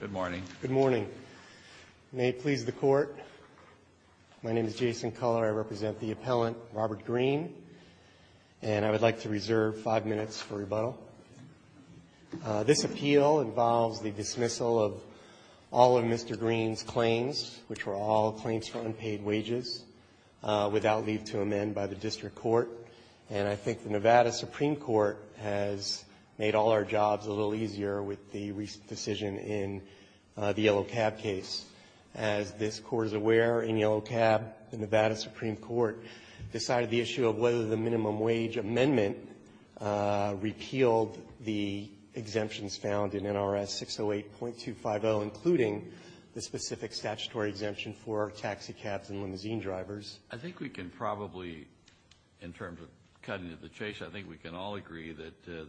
Good morning. Good morning. May it please the Court, my name is Jason Culler, I represent the appellant Robert Greene, and I would like to reserve five minutes for rebuttal. This appeal involves the dismissal of all of Mr. Greene's claims, which were all claims for unpaid wages, without leave to amend by the District Court. And I think the Nevada Supreme Court has made all our jobs a little easier with the recent decision in the Yellow Cab case. As this Court is aware, in Yellow Cab, the Nevada Supreme Court decided the issue of whether the minimum wage amendment repealed the exemptions found in NRS 608.250, including the specific statutory exemption for taxi cabs and limousine drivers. I think we can probably, in terms of cutting to the chase, I think we can all agree that the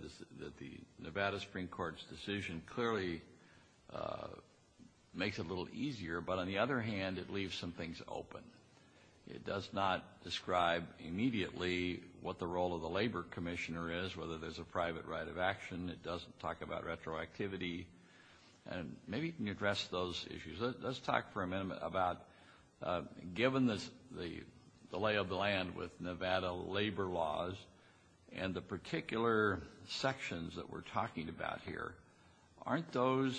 Nevada Supreme Court's decision clearly makes it a little easier, but on the other hand it leaves some things open. It does not describe immediately what the role of the Labor Commissioner is, whether there's a private right of action, it doesn't talk about retroactivity, and maybe you can address those issues. Let's talk for a minute about, given the lay of the land with Nevada labor laws and the particular sections that we're talking about here, aren't those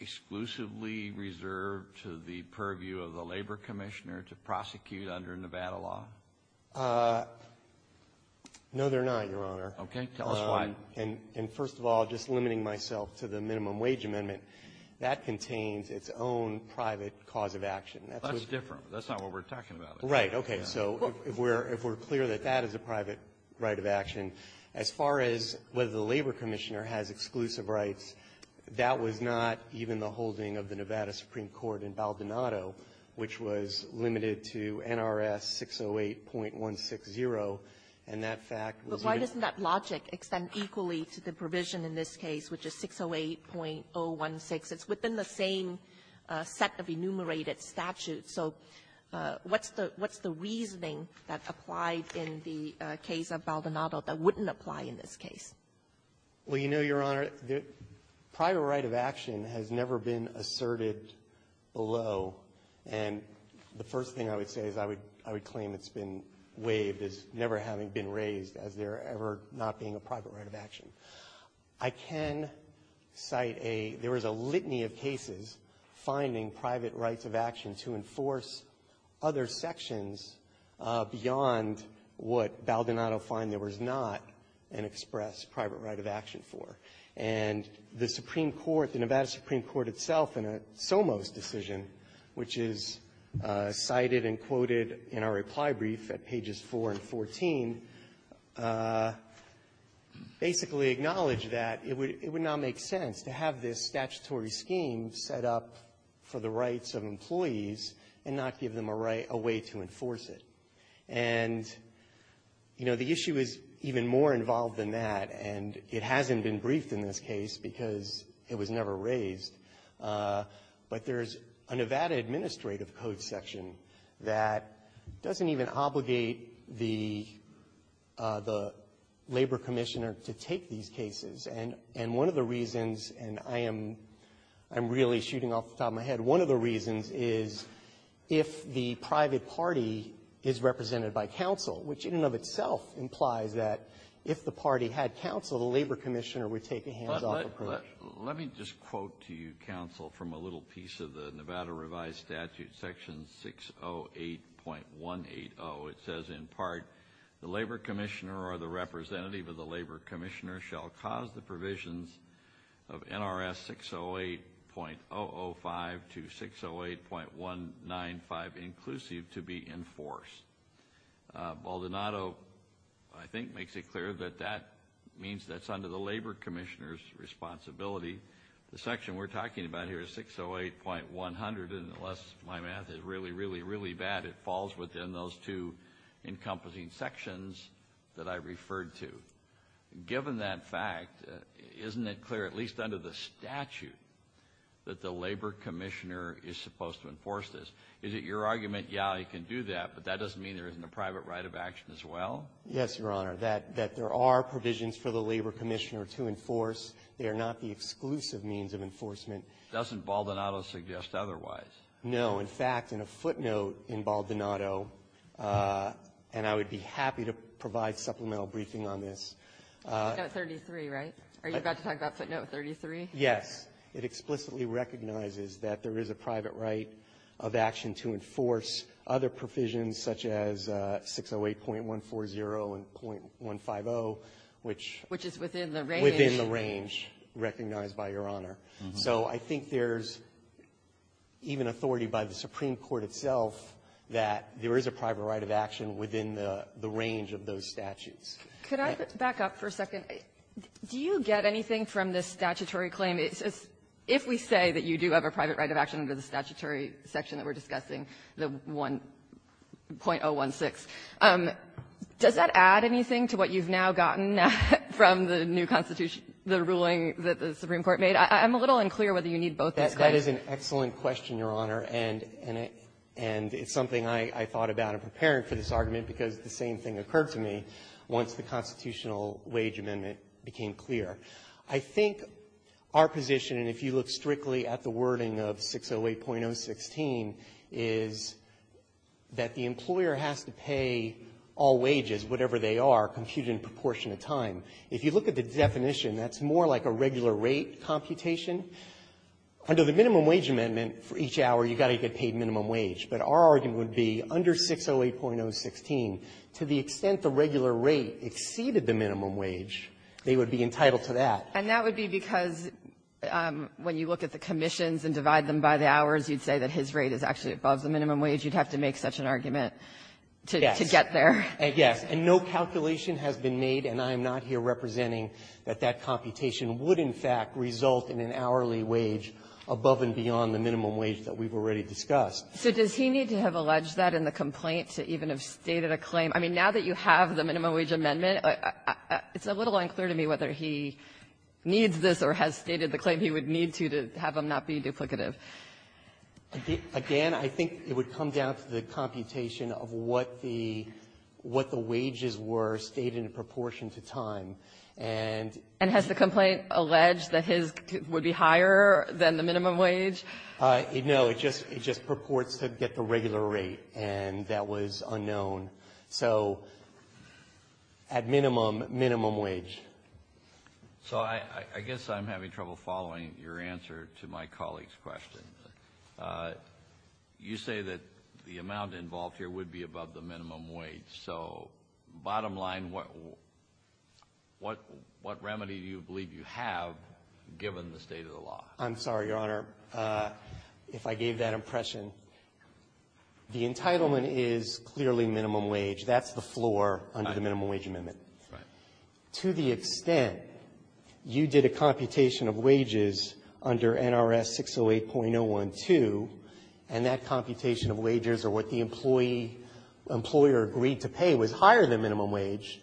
exclusively reserved to the purview of the Labor Commissioner to prosecute under Nevada law? No, they're not, Your Honor. Okay. Tell us why. And first of all, just limiting myself to the minimum wage amendment, that contains its own private cause of action. That's what we're talking about. Right. Okay. So if we're clear that that is a private right of action, as far as whether the Labor Commissioner has exclusive rights, that was not even the holding of the Nevada Supreme Court in Baldonado, which was limited to NRS 608.160, and that fact was even the holding of NRS 608.16, it doesn't extend equally to the provision in this case, which is 608.016. It's within the same set of enumerated statutes. So what's the reasoning that applied in the case of Baldonado that wouldn't apply in this case? Well, you know, Your Honor, private right of action has never been asserted below, and the first thing I would say is I would claim it's been waived as never having been raised as there ever not being a private right of action. I can cite a — there was a litany of cases finding private rights of action to enforce other sections beyond what Baldonado found there was not an expressed private right of action for. And the Supreme Court, the Nevada Supreme Court itself, in a SOMOS decision, which is cited and quoted in our reply brief at pages 4 and 14, basically acknowledged that it would not make sense to have this statutory scheme set up for the rights of employees and not give them a way to enforce it. And, you know, the issue is even more involved than that, and it hasn't been briefed in this case because it was never raised. But there's a Nevada administrative code section that doesn't even obligate the labor commissioner to take these cases. And one of the reasons, and I am really shooting off the top of my head, one of the reasons is if the private party is represented by counsel, which in and of itself implies that if the party had counsel, the labor commissioner would take a hands-off approach. Let me just quote to you, counsel, from a little piece of the Nevada revised statute, section 608.180. It says in part, the labor commissioner or the representative of the labor commissioner shall cause the provisions of NRS 608.005 to 608.195 inclusive to be enforced. Baldonado, I think, makes it clear that that means that's under the labor commissioner's responsibility. The section we're talking about here is 608.100, and unless my math is really, really, really bad, it falls within those two encompassing sections that I referred to. Given that fact, isn't it clear, at least under the statute, that the labor commissioner is supposed to enforce this? Is it your argument, yeah, I can do that, but that doesn't mean there isn't a private right of action as well? Yes, Your Honor, that there are provisions for the labor commissioner to enforce. They are not the exclusive means of enforcement. Doesn't Baldonado suggest otherwise? No. In fact, in a footnote in Baldonado, and I would be happy to provide supplemental briefing on this. Footnote 33, right? Are you about to talk about footnote 33? Yes. It explicitly recognizes that there is a private right of action to enforce other provisions such as 608.140 and .150, which ---- Which is within the range. Within the range, recognized by Your Honor. So I think there's even authority by the Supreme Court itself that there is a private right of action within the range of those statutes. Could I back up for a second? Do you get anything from this statutory claim? If we say that you do have a private right of action under the statutory section that we're discussing, the .016, does that add anything to what you've now gotten from the new Constitution, the ruling that the Supreme Court made? I'm a little unclear whether you need both of those claims. That is an excellent question, Your Honor. And it's something I thought about in preparing for this argument, because the same thing occurred to me once the constitutional wage amendment became clear. I think our position, and if you look strictly at the wording of 608.016, is that the employer has to pay all wages, whatever they are, computed in proportion of time. If you look at the definition, that's more like a regular rate computation. Under the minimum wage amendment, for each hour, you've got to get paid minimum wage. But our argument would be, under 608.016, to the extent the regular rate exceeded the minimum wage, they would be entitled to that. And that would be because, when you look at the commissions and divide them by the to get there. Yes. And no calculation has been made, and I am not here representing that that computation would, in fact, result in an hourly wage above and beyond the minimum wage that we've already discussed. So does he need to have alleged that in the complaint to even have stated a claim? I mean, now that you have the minimum wage amendment, it's a little unclear to me whether he needs this or has stated the claim he would need to, to have them not be duplicative. But, again, I think it would come down to the computation of what the wages were stated in proportion to time. And — And has the complaint alleged that his would be higher than the minimum wage? No. It just purports to get the regular rate. And that was unknown. So, at minimum, minimum wage. So I guess I'm having trouble following your answer to my colleague's question. You say that the amount involved here would be above the minimum wage. So, bottom line, what remedy do you believe you have, given the state of the law? I'm sorry, Your Honor, if I gave that impression. The entitlement is clearly minimum wage. That's the floor under the minimum wage amendment. Right. To the extent you did a computation of wages under NRS 608.012, and that computation of wages or what the employee — employer agreed to pay was higher than minimum wage,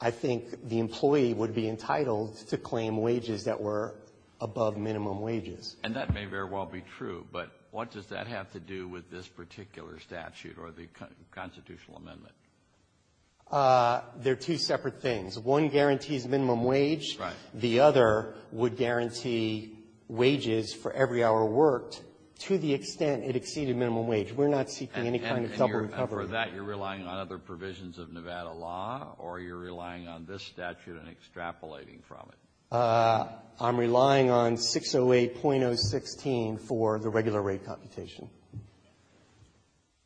I think the employee would be entitled to claim wages that were above minimum wages. And that may very well be true, but what does that have to do with this particular statute or the constitutional amendment? There are two separate things. One guarantees minimum wage. Right. The other would guarantee wages for every hour worked to the extent it exceeded minimum wage. We're not seeking any kind of double coverage. And for that, you're relying on other provisions of Nevada law, or you're relying on this statute and extrapolating from it? I'm relying on 608.016 for the regular rate computation.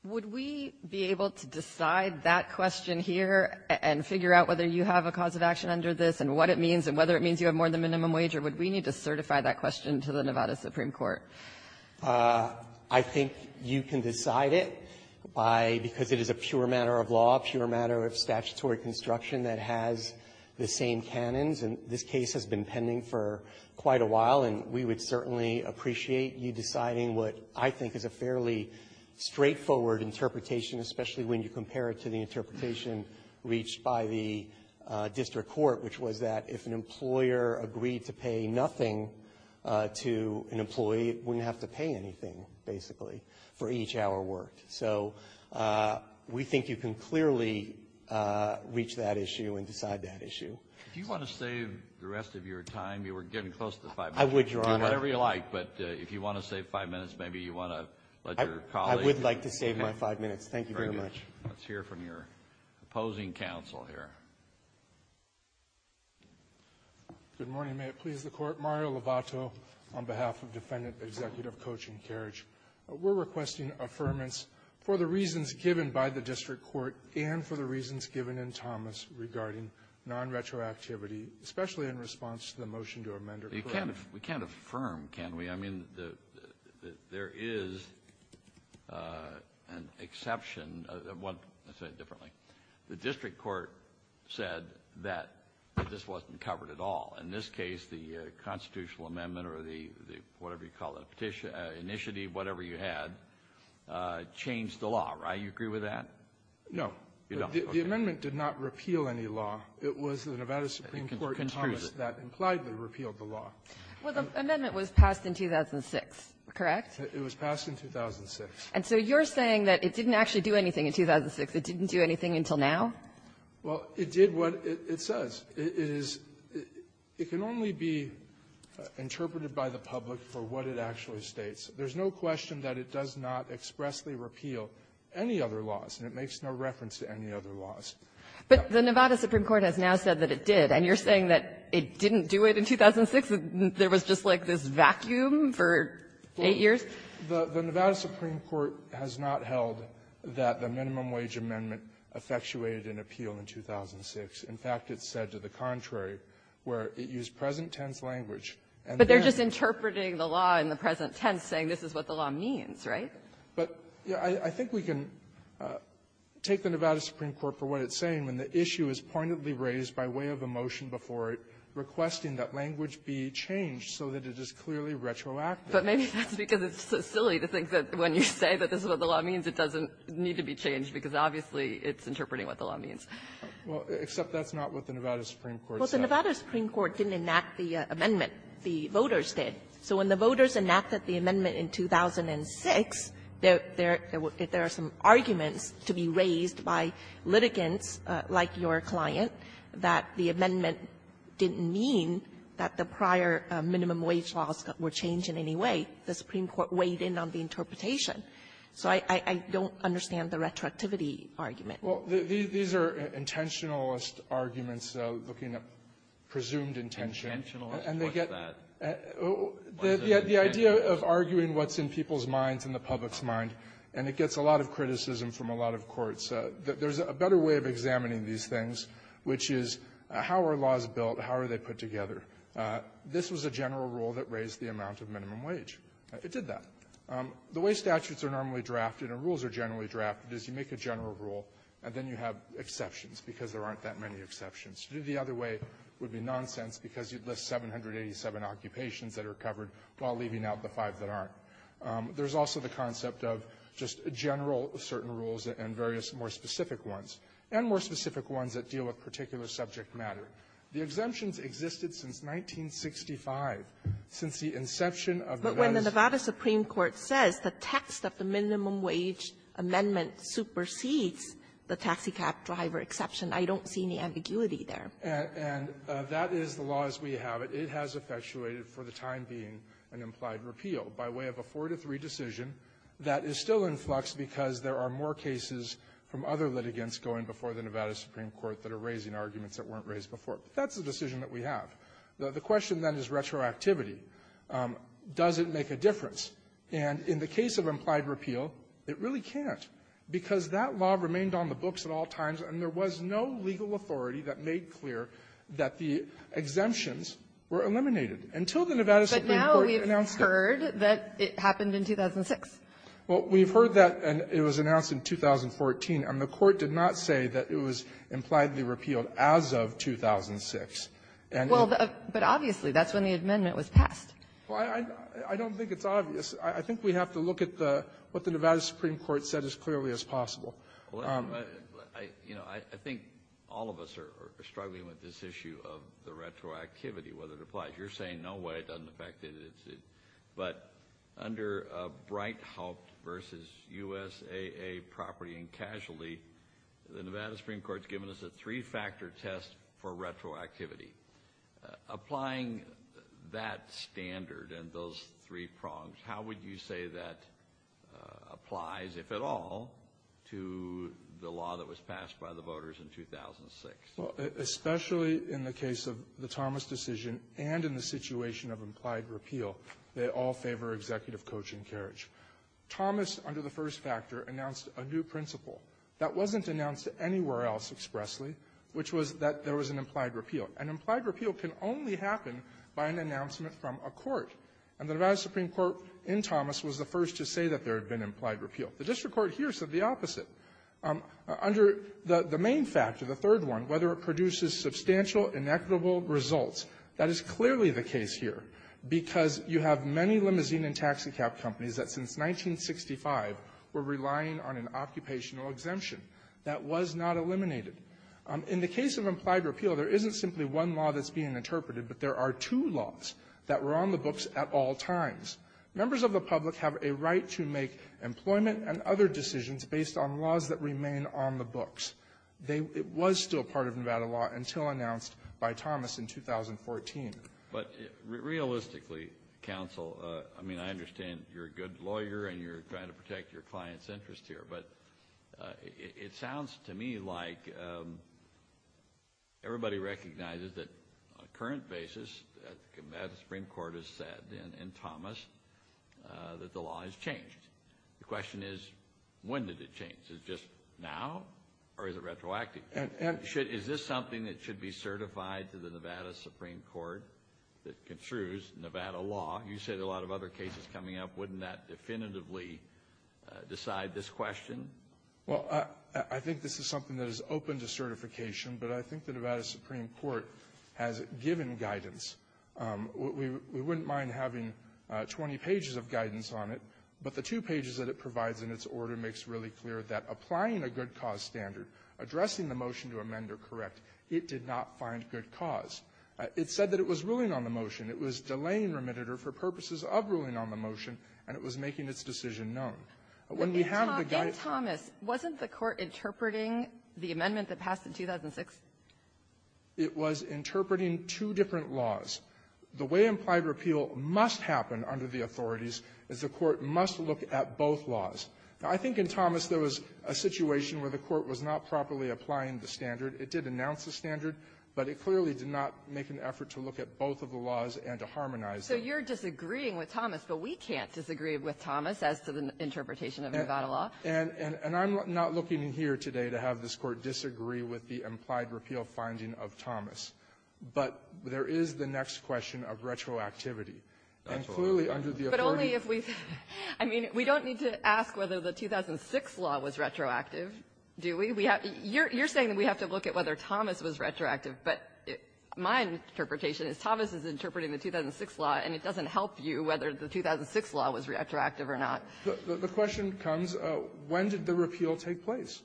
Would we be able to decide that question here and figure out whether you have a cause of action under this and what it means and whether it means you have more than minimum wage, or would we need to certify that question to the Nevada Supreme Court? I think you can decide it by — because it is a pure matter of law, pure matter of statutory construction that has the same canons. And this case has been pending for quite a while, and we would certainly appreciate you deciding what I think is a fairly straightforward interpretation, especially when you compare it to the interpretation reached by the district court, which was that if an employer agreed to pay nothing to an employee, it wouldn't have to pay anything, basically, for each hour worked. So we think you can clearly reach that issue and decide that issue. If you want to save the rest of your time, you were getting close to 5 minutes. I would, Your Honor. Whatever you like. But if you want to save 5 minutes, maybe you want to let your colleague — I would like to save my 5 minutes. Thank you very much. Let's hear from your opposing counsel here. Good morning. May it please the Court. Mario Lovato on behalf of Defendant Executive Coach and Carriage. We're requesting affirmance for the reasons given by the district court and for the reasons given in Thomas regarding nonretroactivity, especially in response to the motion to amend or correct. We can't affirm, can we? I mean, there is an exception. I'll say it differently. The district court said that this wasn't covered at all. In this case, the constitutional amendment or the whatever you call it, petition — initiative, whatever you had, changed the law, right? You agree with that? No. The amendment did not repeal any law. It was the Nevada Supreme Court in Thomas that implied they repealed the law. Well, the amendment was passed in 2006, correct? It was passed in 2006. And so you're saying that it didn't actually do anything in 2006. It didn't do anything until now? Well, it did what it says. It is — it can only be interpreted by the public for what it actually states. There's no question that it does not expressly repeal any other laws, and it makes no reference to any other laws. But the Nevada Supreme Court has now said that it did. Then you're saying that it didn't do it in 2006, that there was just, like, this vacuum for eight years? Well, the Nevada Supreme Court has not held that the minimum wage amendment effectuated an appeal in 2006. In fact, it said to the contrary, where it used present-tense language, and then — But they're just interpreting the law in the present tense, saying this is what the law means, right? But, you know, I think we can take the Nevada Supreme Court for what it's saying when the issue is pointedly raised by way of a motion before it requesting that language be changed so that it is clearly retroactive. But maybe that's because it's so silly to think that when you say that this is what the law means, it doesn't need to be changed, because obviously it's interpreting what the law means. Well, except that's not what the Nevada Supreme Court said. Well, the Nevada Supreme Court didn't enact the amendment. The voters did. Well, these are intentionalist arguments looking at presumed intention. Intentionalist? What's that? The idea of arguing what's in people's minds and the public's mind. And it gets a lot of criticism from a lot of courts. There's a better way of examining these things, which is, how are laws built? How are they put together? This was a general rule that raised the amount of minimum wage. It did that. The way statutes are normally drafted and rules are generally drafted is you make a general rule, and then you have exceptions, because there aren't that many exceptions. To do it the other way would be nonsense, because you'd list 787 occupations that are covered while leaving out the five that aren't. There's also the concept of just general certain rules and various more specific ones, and more specific ones that deal with particular subject matter. The exemptions existed since 1965, since the inception of the legislation of the minimum wage. But when the Nevada Supreme Court says the text of the minimum wage amendment supersedes the taxicab driver exception, I don't see any ambiguity there. And that is the law as we have it. It has effectuated for the time being an implied repeal by way of a 4-to-3 decision that is still in flux because there are more cases from other litigants going before the Nevada Supreme Court that are raising arguments that weren't raised before. That's the decision that we have. The question, then, is retroactivity. Does it make a difference? And in the case of implied repeal, it really can't, because that law remained on the books at all times, and there was no legal authority that made clear that the exemptions were eliminated until the Nevada Supreme Court announced it. But now we've heard that it happened in 2006. Well, we've heard that it was announced in 2014, and the Court did not say that it was impliedly repealed as of 2006. And the ---- Well, but obviously, that's when the amendment was passed. Well, I don't think it's obvious. I think we have to look at the what the Nevada Supreme Court said as clearly as possible. Well, you know, I think all of us are struggling with this issue of the retroactivity, whether it applies. You're saying, no way, it doesn't affect it. But under Breithaupt v. USAA Property and Casualty, the Nevada Supreme Court's given us a three-factor test for retroactivity. Applying that standard and those three prongs, how would you say that applies, if at all, to the law that was passed by the voters in 2006? Well, especially in the case of the Thomas decision and in the situation of implied repeal, they all favor executive coaching carriage. Thomas, under the first factor, announced a new principle that wasn't announced anywhere else expressly, which was that there was an implied repeal. An implied repeal can only happen by an announcement from a court. And the Nevada Supreme Court in Thomas was the first to say that there had been implied repeal. The district court here said the opposite. Under the main factor, the third one, whether it produces substantial inequitable results, that is clearly the case here, because you have many limousine and taxicab companies that since 1965 were relying on an occupational exemption. That was not eliminated. In the case of implied repeal, there isn't simply one law that's being interpreted, but there are two laws that were on the books at all times. Members of the public have a right to make employment and other decisions based on laws that remain on the books. It was still part of Nevada law until announced by Thomas in 2014. But realistically, counsel, I mean, I understand you're a good lawyer and you're trying to protect your client's interest here, but it sounds to me like everybody recognizes that on a current basis, the Nevada Supreme Court has said in Thomas that the law has changed. The question is, when did it change? Is it just now or is it retroactive? And is this something that should be certified to the Nevada Supreme Court that construes Nevada law? You said a lot of other cases coming up. Wouldn't that definitively decide this question? Well, I think this is something that is open to certification, but I think the Nevada Supreme Court has given guidance. We wouldn't mind having 20 pages of guidance on it, but the two pages that it provides in its order makes really clear that applying a good-cause standard, addressing the motion to amend or correct, it did not find good cause. It said that it was ruling on the motion. It was delaying remitted, or for purposes of ruling on the motion, and it was making its decision known. When we have the guidance ---- It was interpreting two different laws. The way implied repeal must happen under the authorities is the Court must look at both laws. Now, I think in Thomas there was a situation where the Court was not properly applying the standard. It did announce the standard, but it clearly did not make an effort to look at both of the laws and to harmonize them. So you're disagreeing with Thomas, but we can't disagree with Thomas as to the interpretation of Nevada law. And I'm not looking here today to have this Court disagree with the implied repeal finding of Thomas. But there is the next question of retroactivity. And clearly under the authority ---- But only if we ---- I mean, we don't need to ask whether the 2006 law was retroactive, do we? We have to ---- you're saying that we have to look at whether Thomas was retroactive, but my interpretation is Thomas is interpreting the 2006 law, and it doesn't help you whether the 2006 law was retroactive or not. The question comes, when did the repeal take place?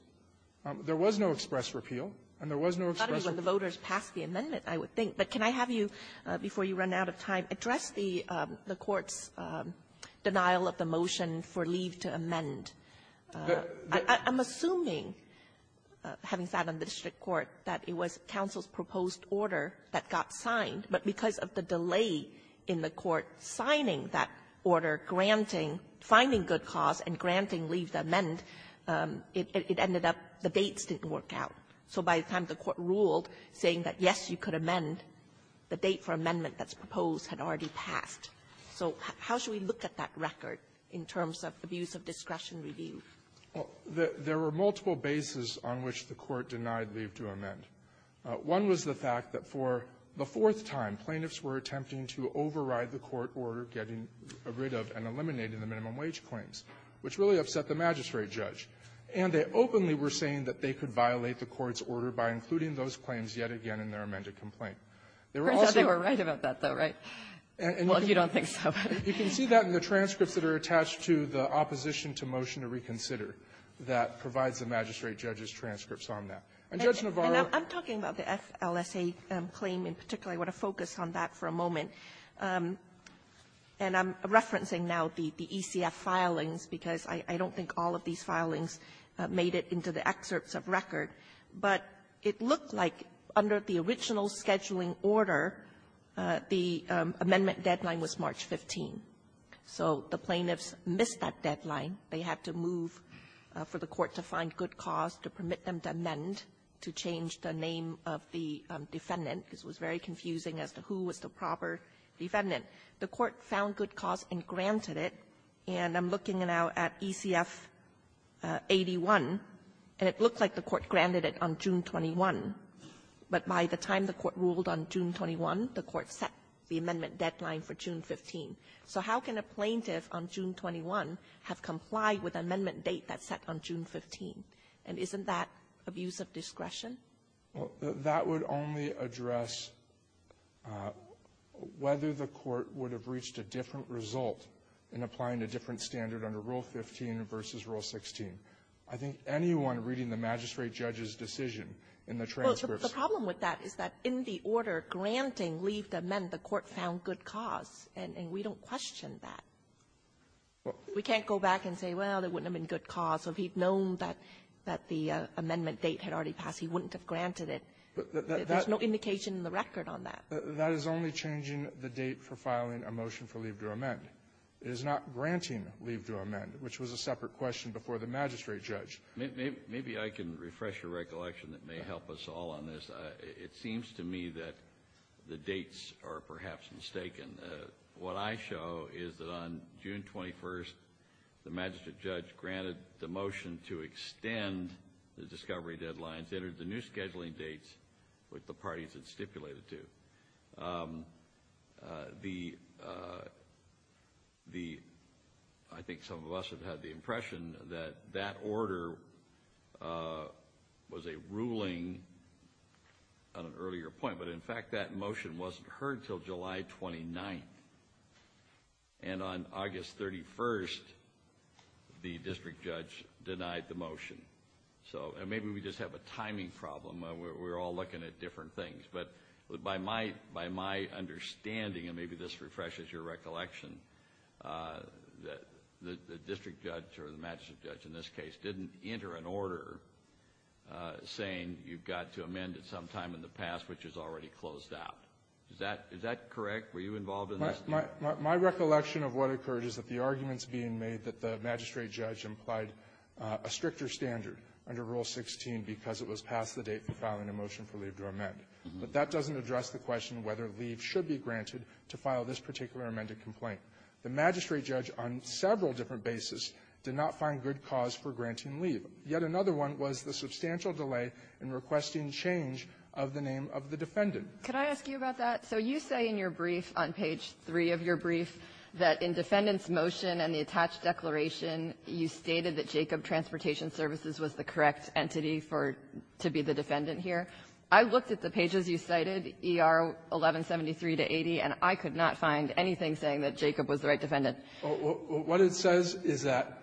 There was no express repeal, and there was no express repeal. I thought it was when the voters passed the amendment, I would think. But can I have you, before you run out of time, address the Court's denial of the motion for leave to amend. I'm assuming, having sat on the district court, that it was counsel's proposed order that got signed, but because of the delay in the Court signing that order, granting ---- finding good cause and granting leave to amend, it ended up the dates didn't work out. So by the time the Court ruled saying that, yes, you could amend, the date for amendment that's proposed had already passed. So how should we look at that record in terms of abuse of discretion review? There were multiple bases on which the Court denied leave to amend. One was the fact that for the fourth time, plaintiffs were attempting to override the court order getting rid of and eliminating the minimum wage claims, which really by including those claims yet again in their amended complaint. There were also ---- Kagan. It turns out they were right about that, though, right? Well, you don't think so. You can see that in the transcripts that are attached to the opposition to motion to reconsider that provides the magistrate judge's transcripts on that. And Judge Navarro ---- And I'm talking about the FLSA claim in particular. I want to focus on that for a moment. And I'm referencing now the ECF filings because I don't think all of these filings made it into the excerpts of record. But it looked like under the original scheduling order, the amendment deadline was March 15. So the plaintiffs missed that deadline. They had to move for the Court to find good cause to permit them to amend, to change the name of the defendant. This was very confusing as to who was the proper defendant. The Court found good cause and granted it. And I'm looking now at ECF 81, and it looked like the Court granted it on June 21. But by the time the Court ruled on June 21, the Court set the amendment deadline for June 15. So how can a plaintiff on June 21 have complied with an amendment date that's set on June 15? And isn't that abuse of discretion? Well, that would only address whether the Court would have reached a different result in applying a different standard under Rule 15 versus Rule 16. I think anyone reading the magistrate judge's decision in the transcripts But the problem with that is that in the order granting leave to amend, the Court found good cause. And we don't question that. What? We can't go back and say, well, there wouldn't have been good cause, or if he'd known that the amendment date had already passed, he wouldn't have granted it. There's no indication in the record on that. That is only changing the date for filing a motion for leave to amend. It is not granting leave to amend, which was a separate question before the magistrate judge. Maybe I can refresh your recollection that may help us all on this. It seems to me that the dates are perhaps mistaken. What I show is that on June 21st, the magistrate judge granted the motion to extend the discovery deadlines, entered the new scheduling dates with the parties it stipulated to. I think some of us have had the impression that that order was a ruling on an earlier point, but in fact that motion wasn't heard until July 29th. And on August 31st, the district judge denied the motion. So maybe we just have a timing problem. We're all looking at different things. But by my understanding, and maybe this refreshes your recollection, the district judge or the magistrate judge in this case didn't enter an order saying you've got to amend at some time in the past which is already closed out. Is that correct? Were you involved in this? My recollection of what occurred is that the argument is being made that the magistrate judge implied a stricter standard under Rule 16 because it was past the date for filing a motion for leave to amend. But that doesn't address the question whether leave should be granted to file this particular amended complaint. The magistrate judge on several different bases did not find good cause for granting leave. Yet another one was the substantial delay in requesting change of the name of the defendant. Can I ask you about that? So you say in your brief, on page 3 of your brief, that in defendant's motion and the attached declaration, you stated that Jacob Transportation Services was the correct entity for to be the defendant here. I looked at the pages you cited, ER 1173 to 80, and I could not find anything saying that Jacob was the right defendant. What it says is that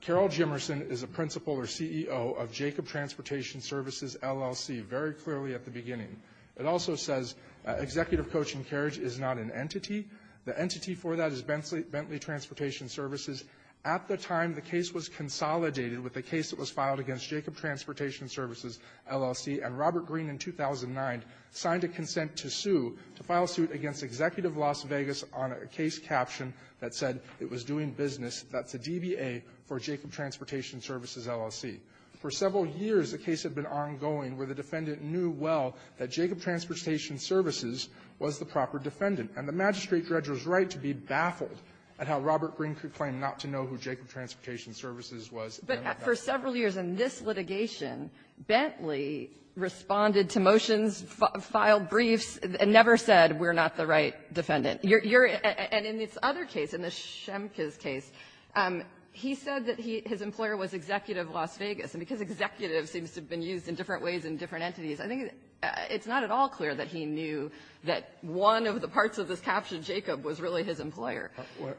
Carol Jimerson is a principal or CEO of Jacob Transportation Services, LLC, very clearly at the beginning. It also says Executive Coaching Carriage is not an entity. The entity for that is Bentley Transportation Services. At the time, the case was consolidated with the case that was filed against Jacob Transportation Services, LLC, and Robert Greene, in 2009, signed a consent to sue to file suit against Executive Las Vegas on a case caption that said it was doing business, that's a DBA for Jacob Transportation Services, LLC. For several years, the case had been ongoing where the defendant knew well that Jacob Transportation Services was the proper defendant. And the magistrate judge was right to be baffled at how Robert Greene could claim not to know who Jacob Transportation Services was. But for several years in this litigation, Bentley responded to motions, filed briefs, and never said, we're not the right defendant. You're at the other case, in the Schemke's case, he said that his employer was Executive Las Vegas, and because Executive seems to have been used in different ways in different entities, I think it's not at all clear that he knew that one of the parts of this caption, Jacob, was really his employer.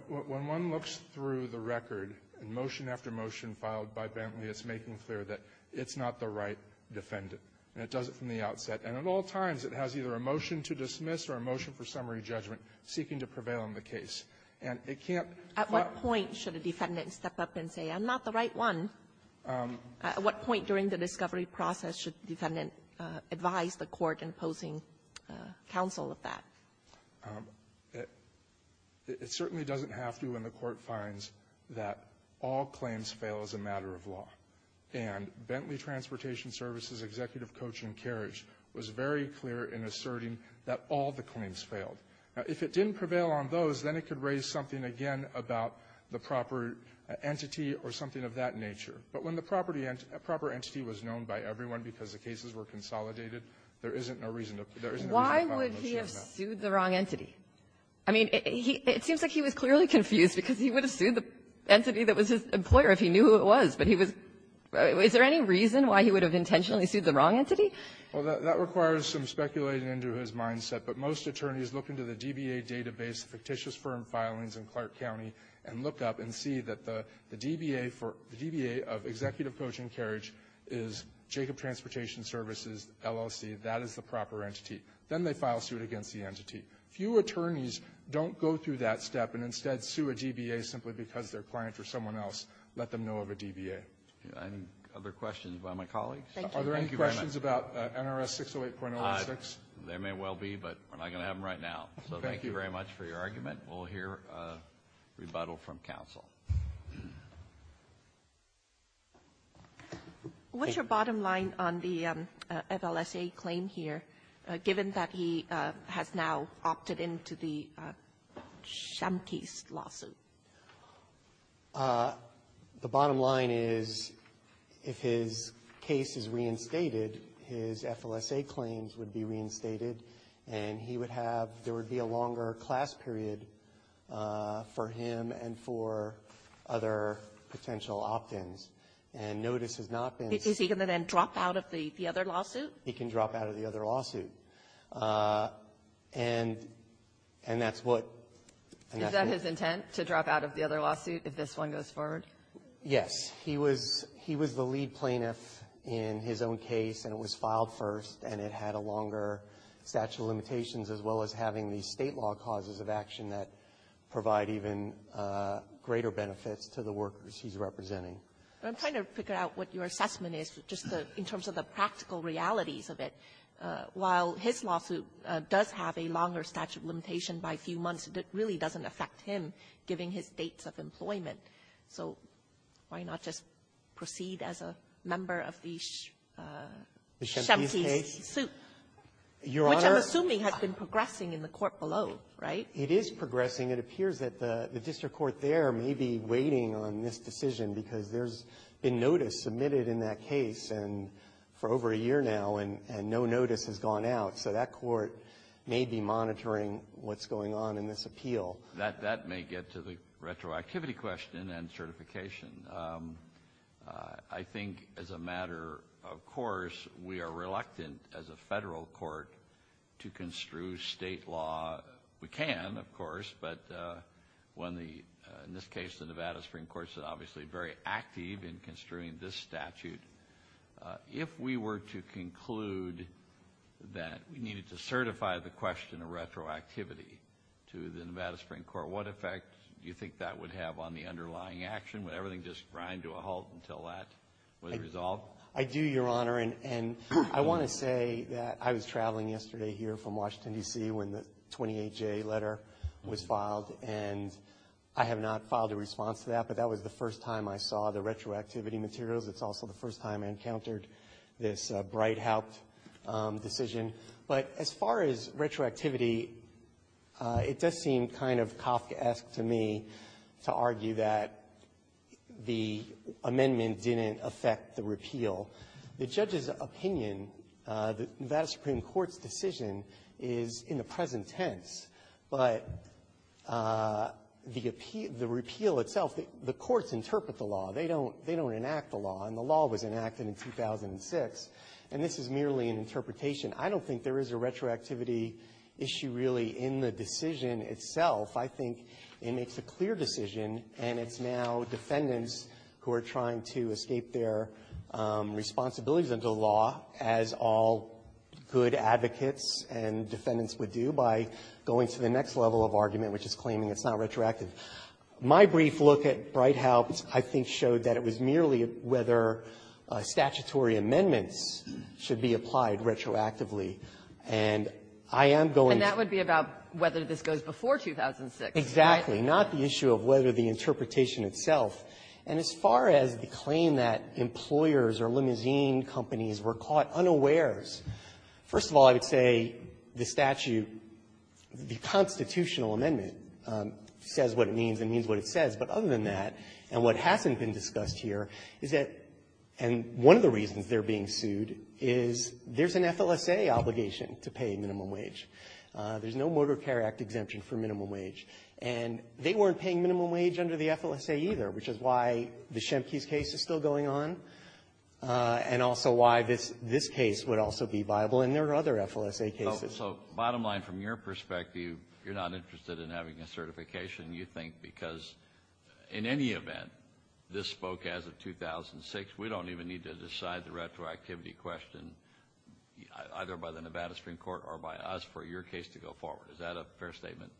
When one looks through the record, motion after motion filed by Bentley, it's making clear that it's not the right defendant. And it does it from the outset. And at all times, it has either a motion to dismiss or a motion for summary judgment seeking to prevail in the case. And it can't be found at the court. At what point should a defendant step up and say, I'm not the right one? At what point during the discovery process should the defendant advise the court in posing counsel of that? It certainly doesn't have to when the court finds that all claims fail as a matter of law. And Bentley Transportation Services Executive Coach and Carriage was very clear in asserting that all the claims failed. Now, if it didn't prevail on those, then it could raise something, again, about the proper entity or something of that nature. But when the proper entity was known by everyone because the cases were consolidated, there isn't a reason to file a motion. Why would he have sued the wrong entity? I mean, it seems like he was clearly confused because he would have sued the entity that was his employer if he knew who it was. But he was — is there any reason why he would have intentionally sued the wrong entity? Well, that requires some speculating into his mindset. But most attorneys look into the DBA database, fictitious firm filings in Clark County, and look up and see that the DBA for — the DBA of Executive Coach and Carriage is Jacob Transportation Services LLC. That is the proper entity. Then they file suit against the entity. Few attorneys don't go through that step and instead sue a DBA simply because their client or someone else let them know of a DBA. And other questions by my colleagues? Thank you. Thank you very much. Are there any questions about NRS 608.06? There may well be, but we're not going to have them right now. So thank you very much for your argument. We'll hear a rebuttal from counsel. What's your bottom line on the FLSA claim here, given that he has now opted into the Shumkey's lawsuit? The bottom line is, if his case is reinstated, his FLSA claims would be reinstated, and he would have — there would be a longer class period for him and for his client other potential opt-ins. And notice has not been — Is he going to then drop out of the other lawsuit? He can drop out of the other lawsuit. And that's what — Is that his intent, to drop out of the other lawsuit if this one goes forward? Yes. He was the lead plaintiff in his own case, and it was filed first, and it had a longer statute of limitations, as well as having the state law causes of action that provide even greater benefits to the workers he's representing. I'm trying to figure out what your assessment is, just in terms of the practical realities of it. While his lawsuit does have a longer statute of limitation by a few months, it really doesn't affect him, given his dates of employment. So why not just proceed as a member of the Shumkey's suit? Your Honor — Which I'm assuming has been progressing in the court below, right? It is progressing. It appears that the district court there may be waiting on this decision because there's been notice submitted in that case for over a year now, and no notice has gone out. So that court may be monitoring what's going on in this appeal. That may get to the retroactivity question and certification. I think, as a matter of course, we are reluctant, as a Federal court, to construe state law. We can, of course, but when the — in this case, the Nevada Supreme Court is obviously very active in construing this statute. If we were to conclude that we needed to certify the question of retroactivity to the Nevada Supreme Court, what effect do you think that would have on the underlying action? Would everything just grind to a halt until that was resolved? I do, Your Honor, and I want to say that I was traveling yesterday here from Washington, D.C., when the 28-J letter was filed, and I have not filed a response to that, but that was the first time I saw the retroactivity materials. It's also the first time I encountered this Breithaupt decision. But as far as retroactivity, it does seem kind of Kafkaesque to me to argue that the amendment didn't affect the repeal. The judge's opinion, the Nevada Supreme Court's decision, is in the present tense. But the repeal itself, the courts interpret the law. They don't enact the law, and the law was enacted in 2006, and this is merely an interpretation. I don't think there is a retroactivity issue really in the decision itself. I think it makes a clear decision, and it's now defendants who are trying to escape their responsibilities under the law, as all good advocates and defendants would do, by going to the next level of argument, which is claiming it's not retroactive. My brief look at Breithaupt, I think, showed that it was merely whether statutory amendments should be applied retroactively. And I am going to be going to be about whether this goes before 2006. Exactly. Not the issue of whether the interpretation itself. And as far as the claim that employers or limousine companies were caught unawares, first of all, I would say the statute, the constitutional amendment, says what it means and means what it says. But other than that, and what hasn't been discussed here, is that one of the reasons they're being sued is there's an FLSA obligation to pay minimum wage. There's no Motor Care Act exemption for minimum wage. And they weren't paying minimum wage under the FLSA either, which is why the Schemke's case is still going on, and also why this case would also be viable. And there are other FLSA cases. So bottom line, from your perspective, you're not interested in having a certification, you think, because in any event, this spoke as of 2006. We don't even need to decide the retroactivity question, either by the Nevada Supreme Court or by us, for your case to go forward. Is that a fair statement?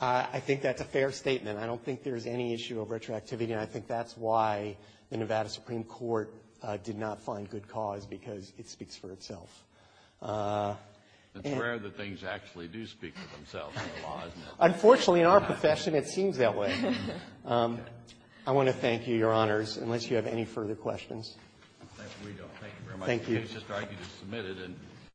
I think that's a fair statement. I don't think there's any issue of retroactivity, and I think that's why the Nevada Supreme Court did not find good cause, because it speaks for itself. It's rare that things actually do speak for themselves in the law, isn't it? Unfortunately, in our profession, it seems that way. I want to thank you, Your Honors, unless you have any further questions. We don't. Thank you very much. Thank you. The case just argued is submitted and